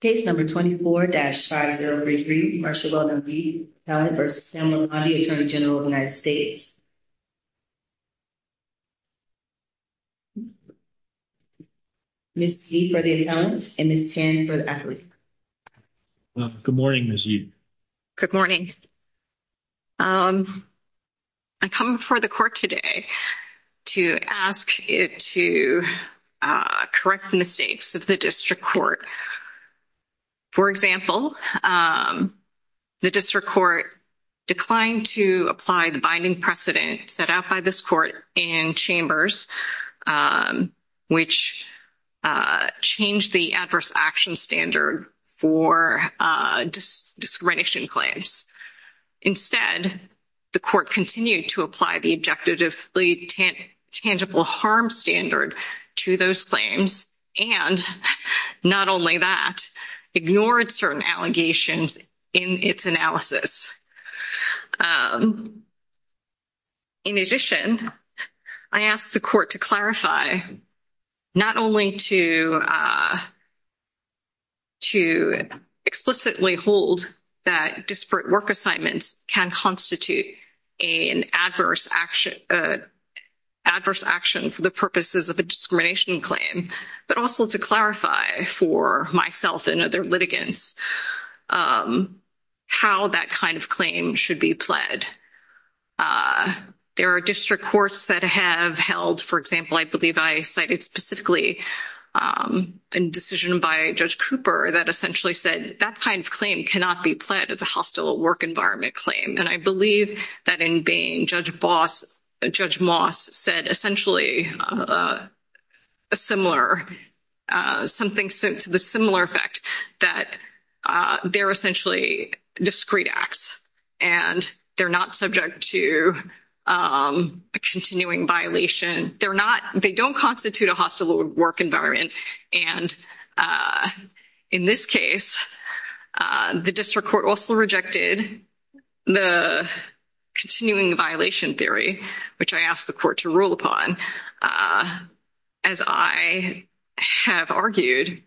Case number 24-5033, Marsha Weldon Yee v. Pamela Bondi, Attorney General of the United States. Ms. Yee for the appellant and Ms. Tan for the athlete. Good morning, Ms. Yee. Good morning. I come before the court today to ask it to correct the mistakes of the district court. For example, the district court declined to apply the binding precedent set out by this court in Chambers, which changed the adverse action standard for discrimination claims. Instead, the court continued to apply the objectively tangible harm standard to those claims, and not only that, ignored certain allegations in its analysis. In addition, I ask the court to clarify not only to explicitly hold that disparate work assignments can constitute an adverse action for the purposes of a discrimination claim, but also to clarify for myself and other litigants how that kind of claim should be pled. There are district courts that have held, for example, I believe I cited specifically a decision by Judge Cooper that essentially said that kind of claim cannot be pled as a hostile work environment claim. And I believe that in Bain, Judge Moss said essentially a similar, something to the similar effect, that they're essentially discreet acts and they're not subject to a continuing violation. They don't constitute a hostile work environment. And in this case, the district court also rejected the continuing violation theory, which I asked the court to rule upon. As I have argued,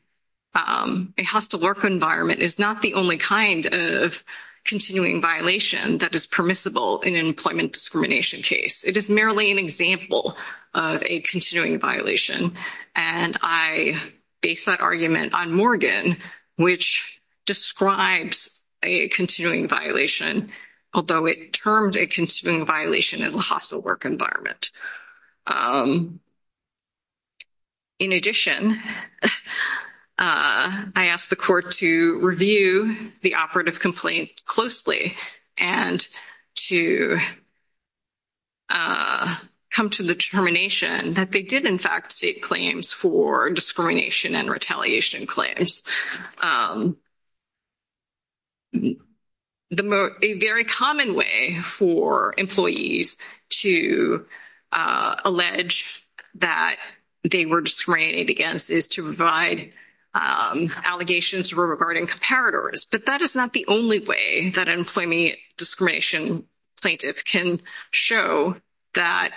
a hostile work environment is not the only kind of continuing violation that is permissible in an employment discrimination case. It is merely an example of a continuing violation. And I base that argument on Morgan, which describes a continuing violation, although it terms a continuing violation as a hostile work environment. In addition, I asked the court to review the operative complaint closely and to come to the determination that they did in fact state claims for discrimination and retaliation claims. A very common way for employees to allege that they were discriminated against is to provide allegations regarding comparators. But that is not the only way that an employment discrimination plaintiff can show that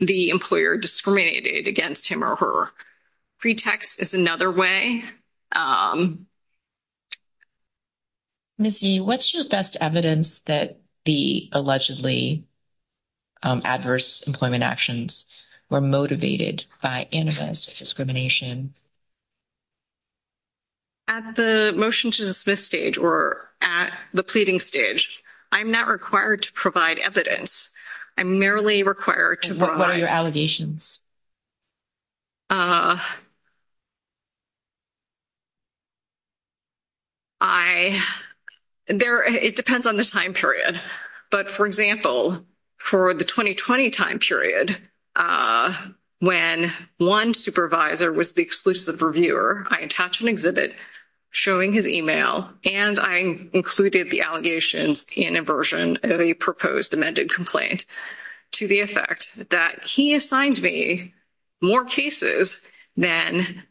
the employer discriminated against him or her. Pretext is another way. Ms. Yee, what's your best evidence that the allegedly adverse employment actions were motivated by anti-discrimination? At the motion to dismiss stage or at the pleading stage, I'm not required to provide evidence. I'm merely required to provide... What are your allegations? I... It depends on the time period. But, for example, for the 2020 time period, when one supervisor was the exclusive reviewer, I attach an exhibit showing his e-mail, and I included the allegations in a version of a proposed amended complaint to the effect that he assigned me more cases than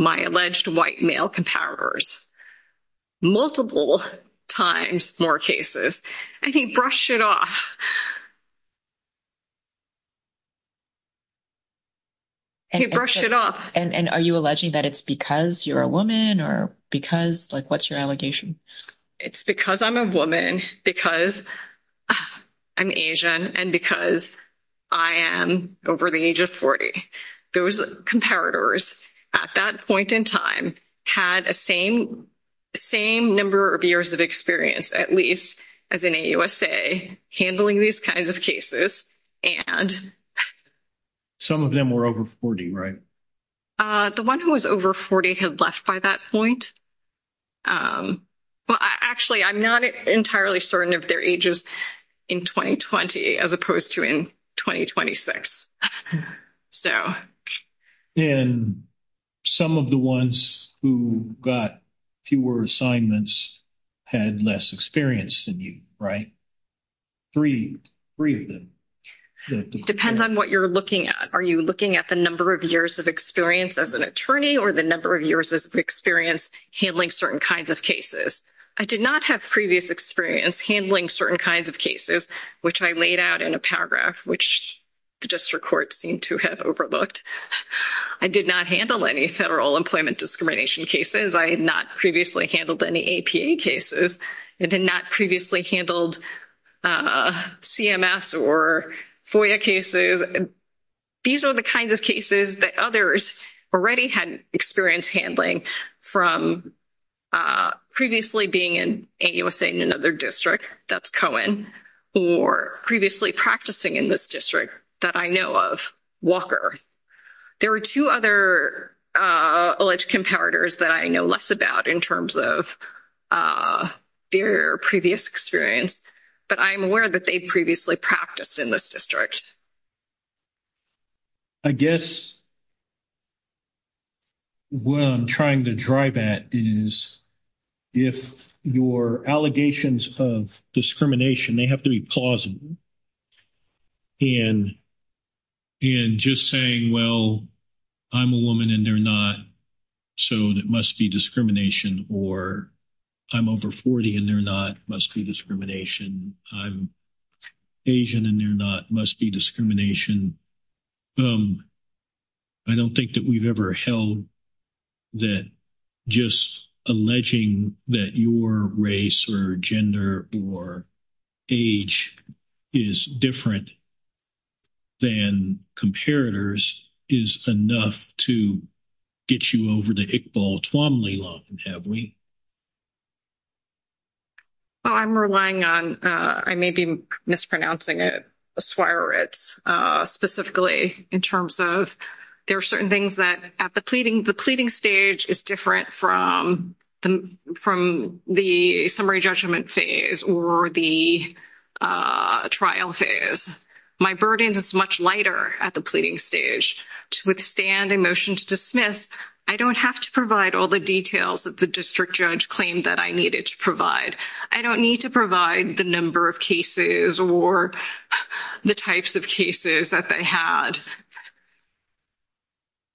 my alleged white male comparators. Multiple times more cases. And he brushed it off. He brushed it off. And are you alleging that it's because you're a woman or because... Like, what's your allegation? It's because I'm a woman, because I'm Asian, and because I am over the age of 40. Those comparators at that point in time had the same number of years of experience, at least, as in AUSA, handling these kinds of cases, and... Some of them were over 40, right? The one who was over 40 had left by that point. Well, actually, I'm not entirely certain of their ages in 2020 as opposed to in 2026. So... And some of the ones who got fewer assignments had less experience than you, right? Three of them. Depends on what you're looking at. Are you looking at the number of years of experience as an attorney or the number of years of experience handling certain kinds of cases? I did not have previous experience handling certain kinds of cases, which I laid out in a paragraph, which the district court seemed to have overlooked. I did not handle any federal employment discrimination cases. I had not previously handled any APA cases. I did not previously handled CMS or FOIA cases. These are the kinds of cases that others already had experience handling from previously being in AUSA in another district, that's Cohen, or previously practicing in this district that I know of, Walker. There are two other alleged comparators that I know less about in terms of their previous experience, but I am aware that they previously practiced in this district. I guess what I'm trying to drive at is if your allegations of discrimination, they have to be plausible. And just saying, well, I'm a woman and they're not, so it must be discrimination, or I'm over 40 and they're not, must be discrimination. I'm Asian and they're not, must be discrimination. I don't think that we've ever held that just alleging that your race or gender or age is different than comparators is enough to get you over the Iqbal-Tuamly line, have we? Well, I'm relying on, I may be mispronouncing it, Swieritz specifically in terms of there are certain things that at the pleading, the pleading stage is different from the summary judgment phase or the trial phase. My burden is much lighter at the pleading stage. To withstand a motion to dismiss, I don't have to provide all the details that the district judge claimed that I needed to provide. I don't need to provide the number of cases or the types of cases that they had.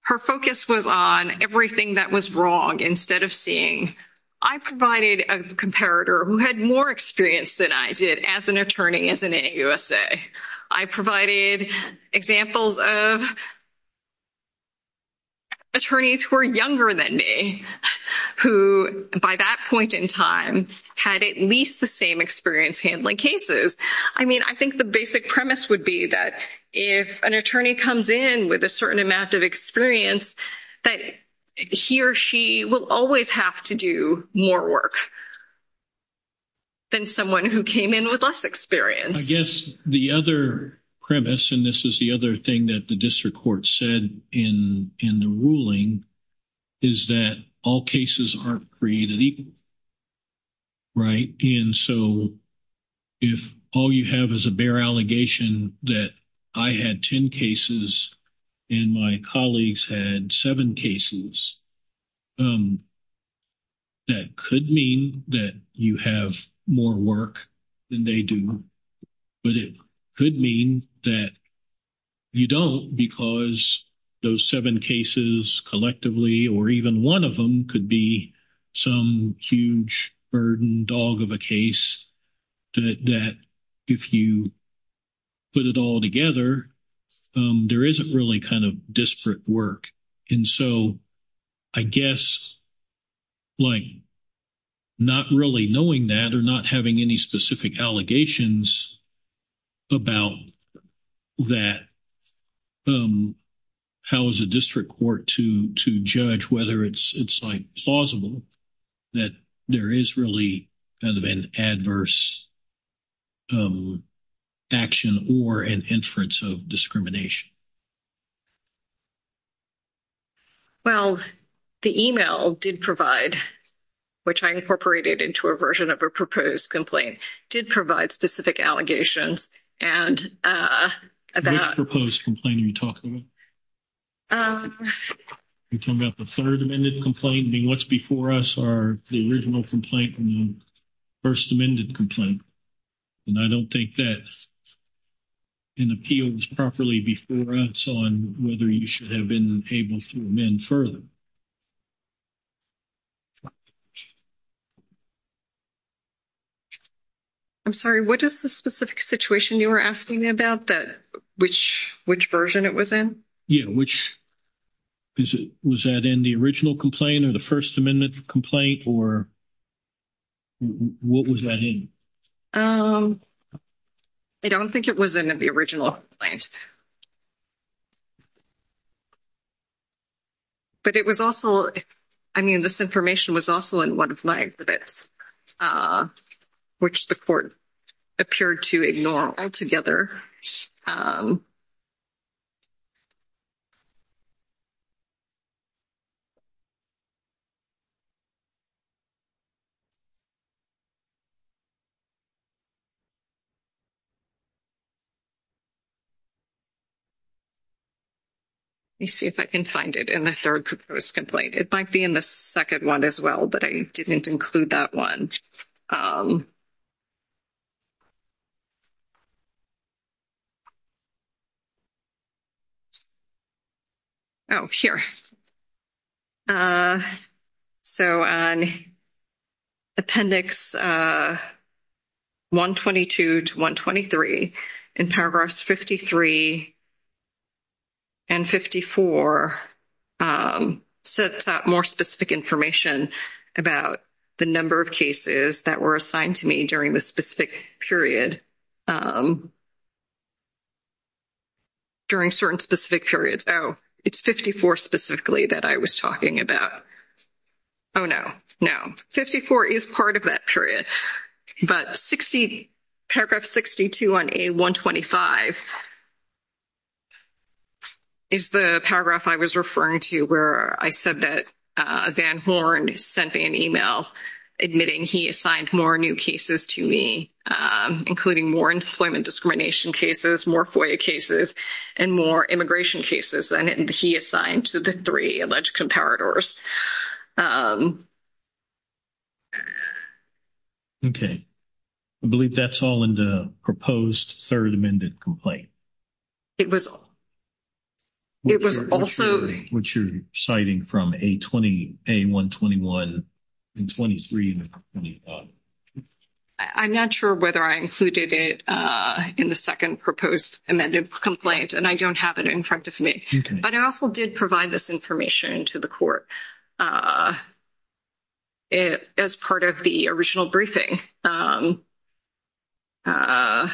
Her focus was on everything that was wrong instead of seeing. I provided a comparator who had more experience than I did as an attorney as an AUSA. I provided examples of attorneys who are younger than me, who by that point in time had at least the same experience handling cases. I mean, I think the basic premise would be that if an attorney comes in with a certain amount of experience, that he or she will always have to do more work than someone who came in with less experience. I guess the other premise, and this is the other thing that the district court said in the ruling, is that all cases aren't created equal. Right? And so if all you have is a bare allegation that I had 10 cases and my colleagues had 7 cases, that could mean that you have more work than they do. But it could mean that you don't because those 7 cases collectively or even one of them could be some huge burden dog of a case that if you put it all together, there isn't really kind of disparate work. And so I guess like not really knowing that or not having any specific allegations about that, how is a district court to judge whether it's plausible that there is really kind of an adverse action or an inference of discrimination? Well, the e-mail did provide, which I incorporated into a version of a proposed complaint, did provide specific allegations. Which proposed complaint are you talking about? Are you talking about the third amended complaint? I mean, what's before us are the original complaint and the first amended complaint. And I don't think that appeals properly before us on whether you should have been able to amend further. I'm sorry. What is the specific situation you were asking about that which version it was in? Yeah. Was that in the original complaint or the first amendment complaint or what was that in? I don't think it was in the original complaint. But it was also, I mean, this information was also in one of my exhibits, which the court appeared to ignore altogether. Let me see if I can find it in the third proposed complaint. It might be in the second one as well, but I didn't include that one. Oh, here. So appendix 122 to 123 in paragraphs 53 and 54 sets out more specific information about the number of cases that were assigned to me during the specific period. During certain specific periods. Oh, it's 54 specifically that I was talking about. Oh, no. No. 54 is part of that period. But paragraph 62 on A125 is the paragraph I was referring to where I said that Van Horn sent me an email admitting he assigned more new cases to me, including more employment discrimination cases, more FOIA cases, and more immigration cases than he assigned to the three alleged comparators. Okay. I believe that's all in the proposed third amended complaint. It was also what you're citing from A121 and 23. I'm not sure whether I included it in the second proposed amended complaint, and I don't have it in front of me. But I also did provide this information to the court as part of the original briefing. I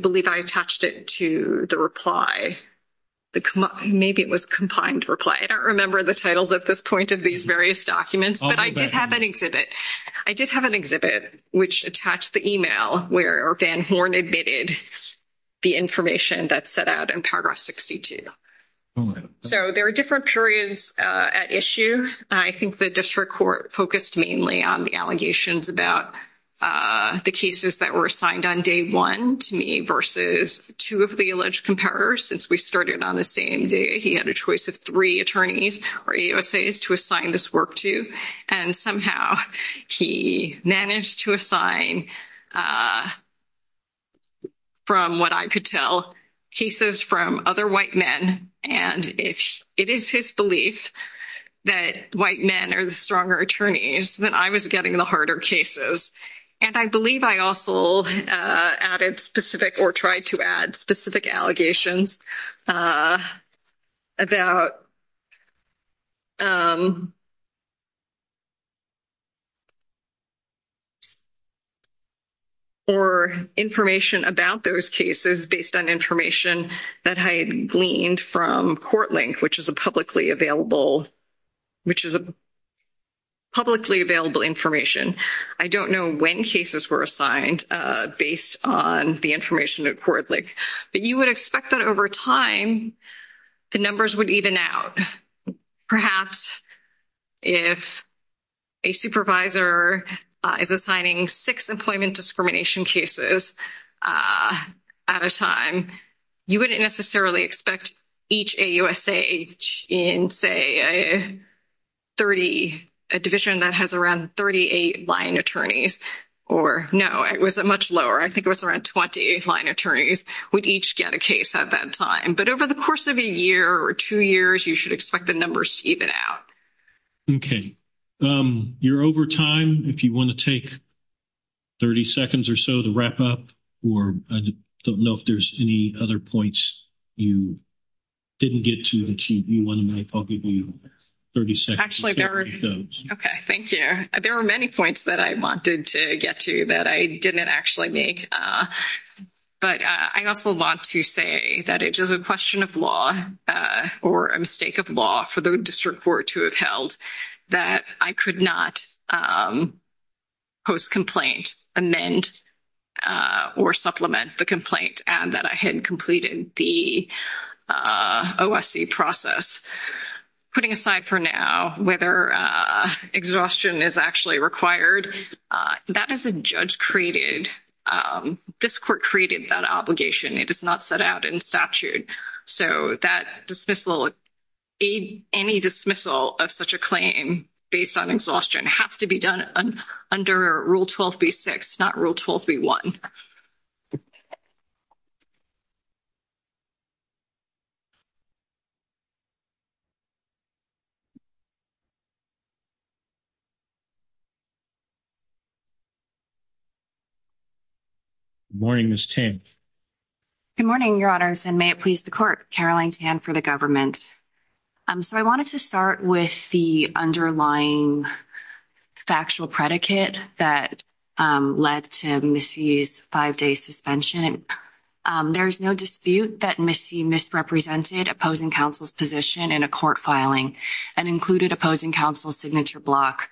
believe I attached it to the reply. Maybe it was combined reply. I don't remember the titles at this point of these various documents, but I did have an exhibit. I did have an exhibit which attached the email where Van Horn admitted the information that's set out in paragraph 62. So there are different periods at issue. I think the district court focused mainly on the allegations about the cases that were assigned on day one to me versus two of the alleged comparators. Since we started on the same day, he had a choice of three attorneys or EOSAs to assign this work to. And somehow he managed to assign, from what I could tell, cases from other white men. And it is his belief that white men are the stronger attorneys that I was getting the harder cases. And I believe I also added specific or tried to add specific allegations about or information about those cases based on information that I had gleaned from CourtLink, which is a publicly available information. I don't know when cases were assigned based on the information at CourtLink, but you would expect that over time the numbers would even out. Perhaps if a supervisor is assigning six employment discrimination cases at a time, you wouldn't necessarily expect each AUSA in, say, a division that has around 38 line attorneys. Or, no, it was much lower. I think it was around 20 line attorneys would each get a case at that time. But over the course of a year or two years, you should expect the numbers to even out. Okay. You're over time. If you want to take 30 seconds or so to wrap up, or I don't know if there's any other points you didn't get to that you want to make, I'll give you 30 seconds to take those. Okay. Thank you. There were many points that I wanted to get to that I didn't actually make. But I also want to say that it is a question of law or a mistake of law for the district court to have held that I could not post complaint, amend, or supplement the complaint, and that I had completed the OSC process. Putting aside for now whether exhaustion is actually required, that is a judge-created, this court created that obligation. It is not set out in statute. So that dismissal, any dismissal of such a claim based on exhaustion has to be done under Rule 12b-6, not Rule 12b-1. Thank you. Good morning, Ms. Tan. Good morning, Your Honors, and may it please the court, Caroline Tan for the government. So I wanted to start with the underlying factual predicate that led to Missy's five-day suspension. There is no dispute that Missy misrepresented opposing counsel's position in a court filing and included opposing counsel's signature block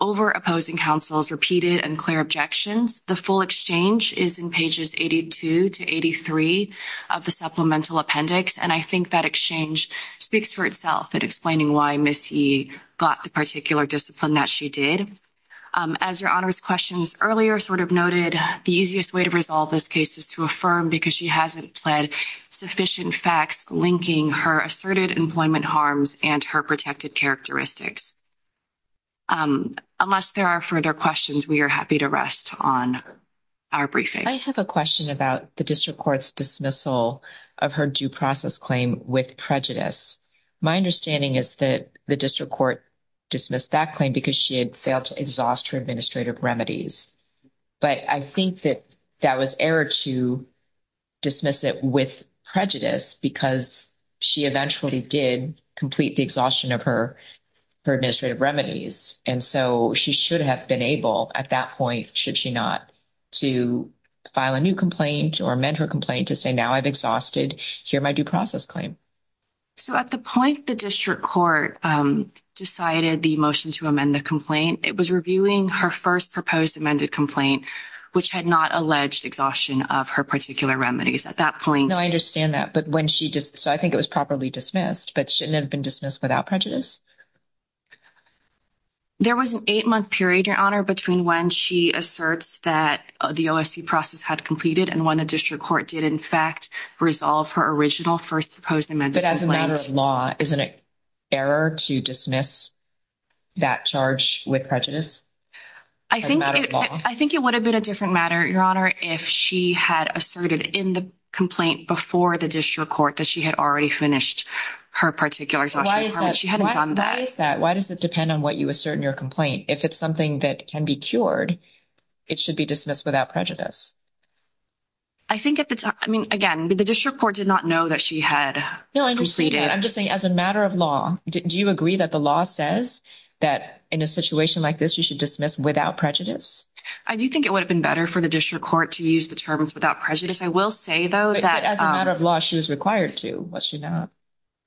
over opposing counsel's repeated and clear objections. The full exchange is in pages 82 to 83 of the supplemental appendix, and I think that exchange speaks for itself in explaining why Missy got the particular discipline that she did. As Your Honors' questions earlier sort of noted, the easiest way to resolve this case is to affirm because she hasn't pled sufficient facts linking her asserted employment harms and her protected characteristics. Unless there are further questions, we are happy to rest on our briefing. I have a question about the district court's dismissal of her due process claim with prejudice. My understanding is that the district court dismissed that claim because she had failed to exhaust her administrative remedies. But I think that that was error to dismiss it with prejudice because she eventually did complete the exhaustion of her administrative remedies. And so she should have been able at that point, should she not, to file a new complaint or amend her complaint to say, now I've exhausted here my due process claim. So at the point the district court decided the motion to amend the complaint, it was reviewing her first proposed amended complaint, which had not alleged exhaustion of her particular remedies. At that point. No, I understand that. So I think it was properly dismissed, but shouldn't have been dismissed without prejudice. There was an eight-month period, Your Honor, between when she asserts that the OFC process had completed and when the district court did, in fact, resolve her original first proposed amended complaint. But as a matter of law, isn't it error to dismiss that charge with prejudice? I think it would have been a different matter, Your Honor, if she had asserted in the complaint before the district court that she had already finished her particular exhaustion of her remedies. She hadn't done that. Why does it depend on what you assert in your complaint? If it's something that can be cured, it should be dismissed without prejudice. I think at the time, I mean, again, the district court did not know that she had completed. No, I understand that. I'm just saying as a matter of law, do you agree that the law says that in a situation like this, you should dismiss without prejudice? I do think it would have been better for the district court to use the terms without prejudice. I will say, though, that But as a matter of law, she was required to, was she not?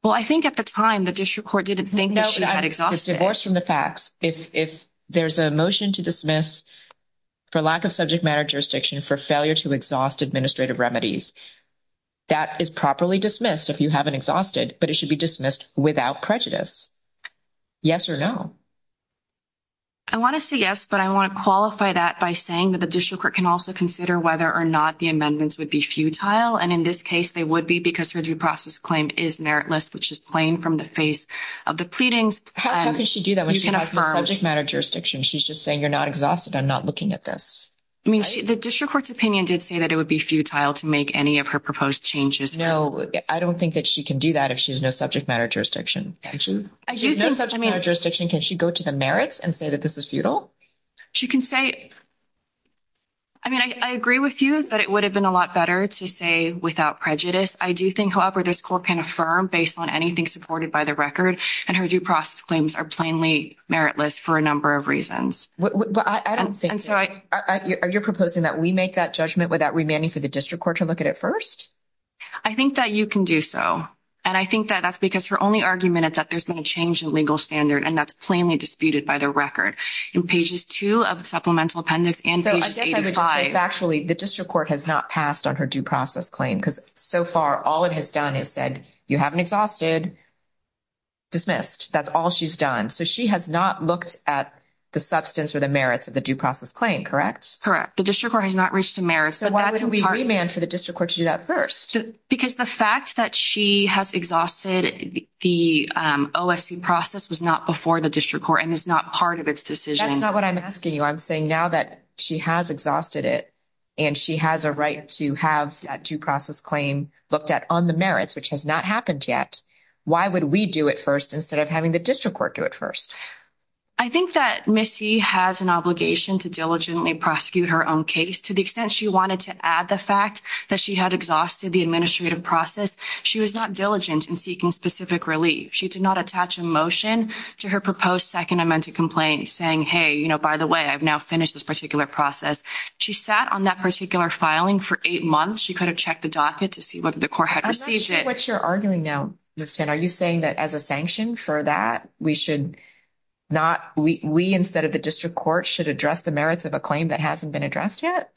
Well, I think at the time, the district court didn't think that she had exhausted. No, but divorced from the facts. If there's a motion to dismiss for lack of subject matter jurisdiction for failure to exhaust administrative remedies, that is properly dismissed if you haven't exhausted, but it should be dismissed without prejudice. Yes or no? I want to say yes, but I want to qualify that by saying that the district court can also consider whether or not the amendments would be futile. And in this case, they would be because her due process claim is meritless, which is plain from the face of the pleadings. How can she do that when she has no subject matter jurisdiction? She's just saying you're not exhausted. I'm not looking at this. I mean, the district court's opinion did say that it would be futile to make any of her proposed changes. No, I don't think that she can do that if she has no subject matter jurisdiction. She has no subject matter jurisdiction. Can she go to the merits and say that this is futile? She can say, I mean, I agree with you that it would have been a lot better to say without prejudice. I do think, however, this court can affirm based on anything supported by the record, and her due process claims are plainly meritless for a number of reasons. Are you proposing that we make that judgment without remanding for the district court to look at it first? I think that you can do so. And I think that that's because her only argument is that there's been a change in legal standard, and that's plainly disputed by the record. In pages 2 of the supplemental appendix and pages 85. So I guess I would just say factually the district court has not passed on her due process claim because so far all it has done is said you haven't exhausted, dismissed. That's all she's done. So she has not looked at the substance or the merits of the due process claim, correct? Correct. The district court has not reached the merits. So why would we remand for the district court to do that first? Because the fact that she has exhausted the OFC process was not before the district court and is not part of its decision. That's not what I'm asking you. I'm saying now that she has exhausted it and she has a right to have that due process claim looked at on the merits, which has not happened yet, why would we do it first instead of having the district court do it first? I think that Missy has an obligation to diligently prosecute her own case to the extent she wanted to add the fact that she had exhausted the administrative process. She was not diligent in seeking specific relief. She did not attach a motion to her proposed second amendment complaint saying, hey, you know, by the way, I've now finished this particular process. She sat on that particular filing for eight months. She could have checked the docket to see whether the court had received it. I'm not sure what you're arguing now, Miss Tan. Are you saying that as a sanction for that we should not, we instead of the district court should address the merits of a claim that hasn't been addressed yet?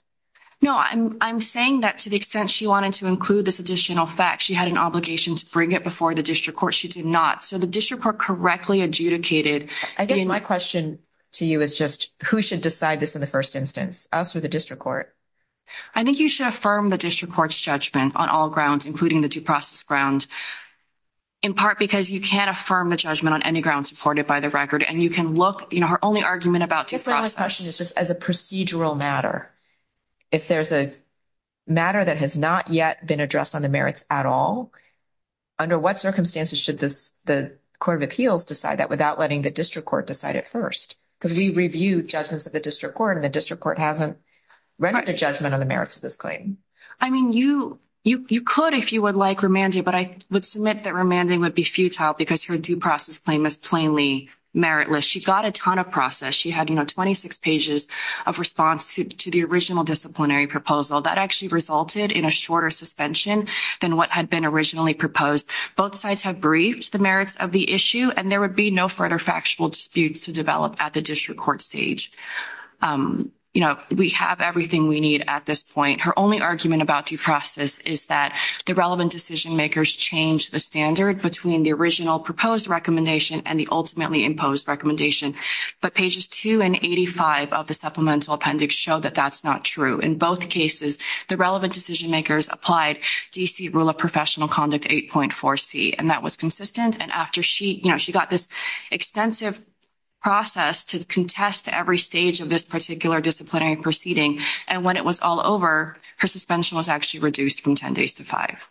No, I'm saying that to the extent she wanted to include this additional fact, she had an obligation to bring it before the district court. She did not. So the district court correctly adjudicated. I guess my question to you is just who should decide this in the first instance, us or the district court? I think you should affirm the district court's judgment on all grounds, including the due process grounds, in part because you can't affirm the judgment on any grounds supported by the record and you can look, you know, her only argument about due process. I guess my last question is just as a procedural matter, if there's a matter that has not yet been addressed on the merits at all, under what circumstances should the court of appeals decide that without letting the district court decide it first? Because we review judgments of the district court and the district court hasn't rendered a judgment on the merits of this claim. I mean, you could if you would like, Romandy, but I would submit that Romandy would be futile because her due process claim is plainly meritless. She got a ton of process. She had, you know, 26 pages of response to the original disciplinary proposal. That actually resulted in a shorter suspension than what had been originally proposed. Both sides have briefed the merits of the issue, and there would be no further factual disputes to develop at the district court stage. You know, we have everything we need at this point. Her only argument about due process is that the relevant decision makers changed the standard between the original proposed recommendation and the ultimately imposed recommendation, but pages 2 and 85 of the supplemental appendix show that that's not true. In both cases, the relevant decision makers applied D.C. Rule of Professional Conduct 8.4C, and that was consistent, and after she, you know, she got this extensive process to contest every stage of this particular disciplinary proceeding, and when it was all over, her suspension was actually reduced from 10 days to five.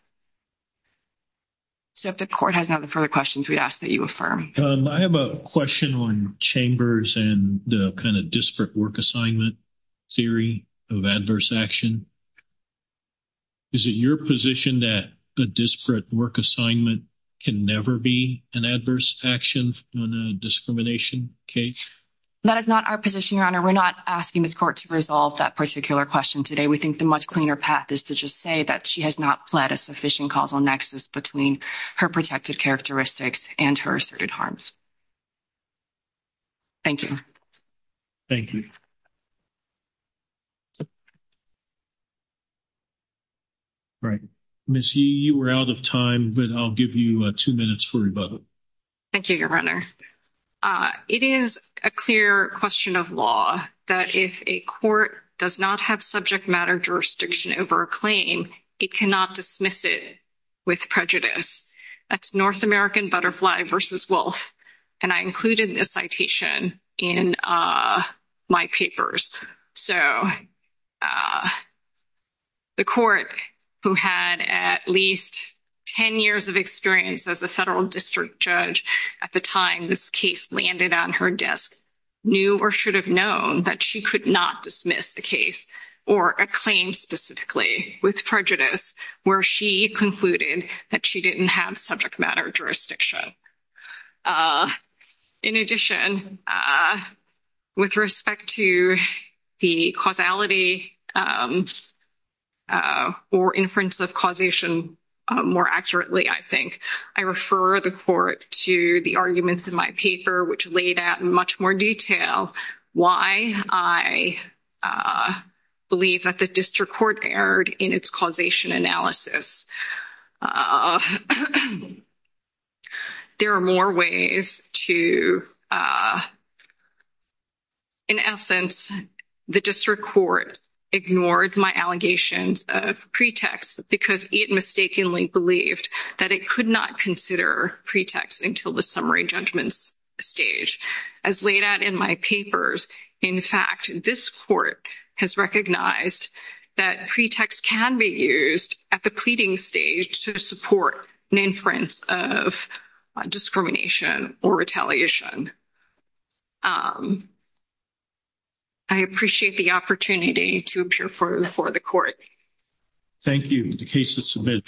So if the court has no further questions, we'd ask that you affirm. I have a question on chambers and the kind of disparate work assignment theory of adverse action. Is it your position that a disparate work assignment can never be an adverse action on a discrimination case? That is not our position, Your Honor. We're not asking this court to resolve that particular question today. We think the much cleaner path is to just say that she has not pled a sufficient causal nexus between her protected characteristics and her asserted harms. Thank you. Thank you. All right. Ms. Yee, you were out of time, but I'll give you two minutes for rebuttal. Thank you, Your Honor. It is a clear question of law that if a court does not have subject matter jurisdiction over a claim, it cannot dismiss it with prejudice. That's North American butterfly versus wolf, and I included this citation in my papers. So the court who had at least 10 years of experience as a federal district judge at the time this case landed on her desk knew or should have known that she could not dismiss the case or a claim specifically with prejudice where she concluded that she didn't have subject matter jurisdiction. In addition, with respect to the causality or inference of causation more accurately, I think, I refer the court to the arguments in my paper which laid out in much more detail why I believe that the district court erred in its causation analysis. There are more ways to, in essence, the district court ignored my allegations of pretext because it mistakenly believed that it could not consider pretext until the summary judgment stage. As laid out in my papers, in fact, this court has recognized that pretext can be used at the pleading level or the pleading stage to support an inference of discrimination or retaliation. I appreciate the opportunity to appear before the court. Thank you. The case is submitted.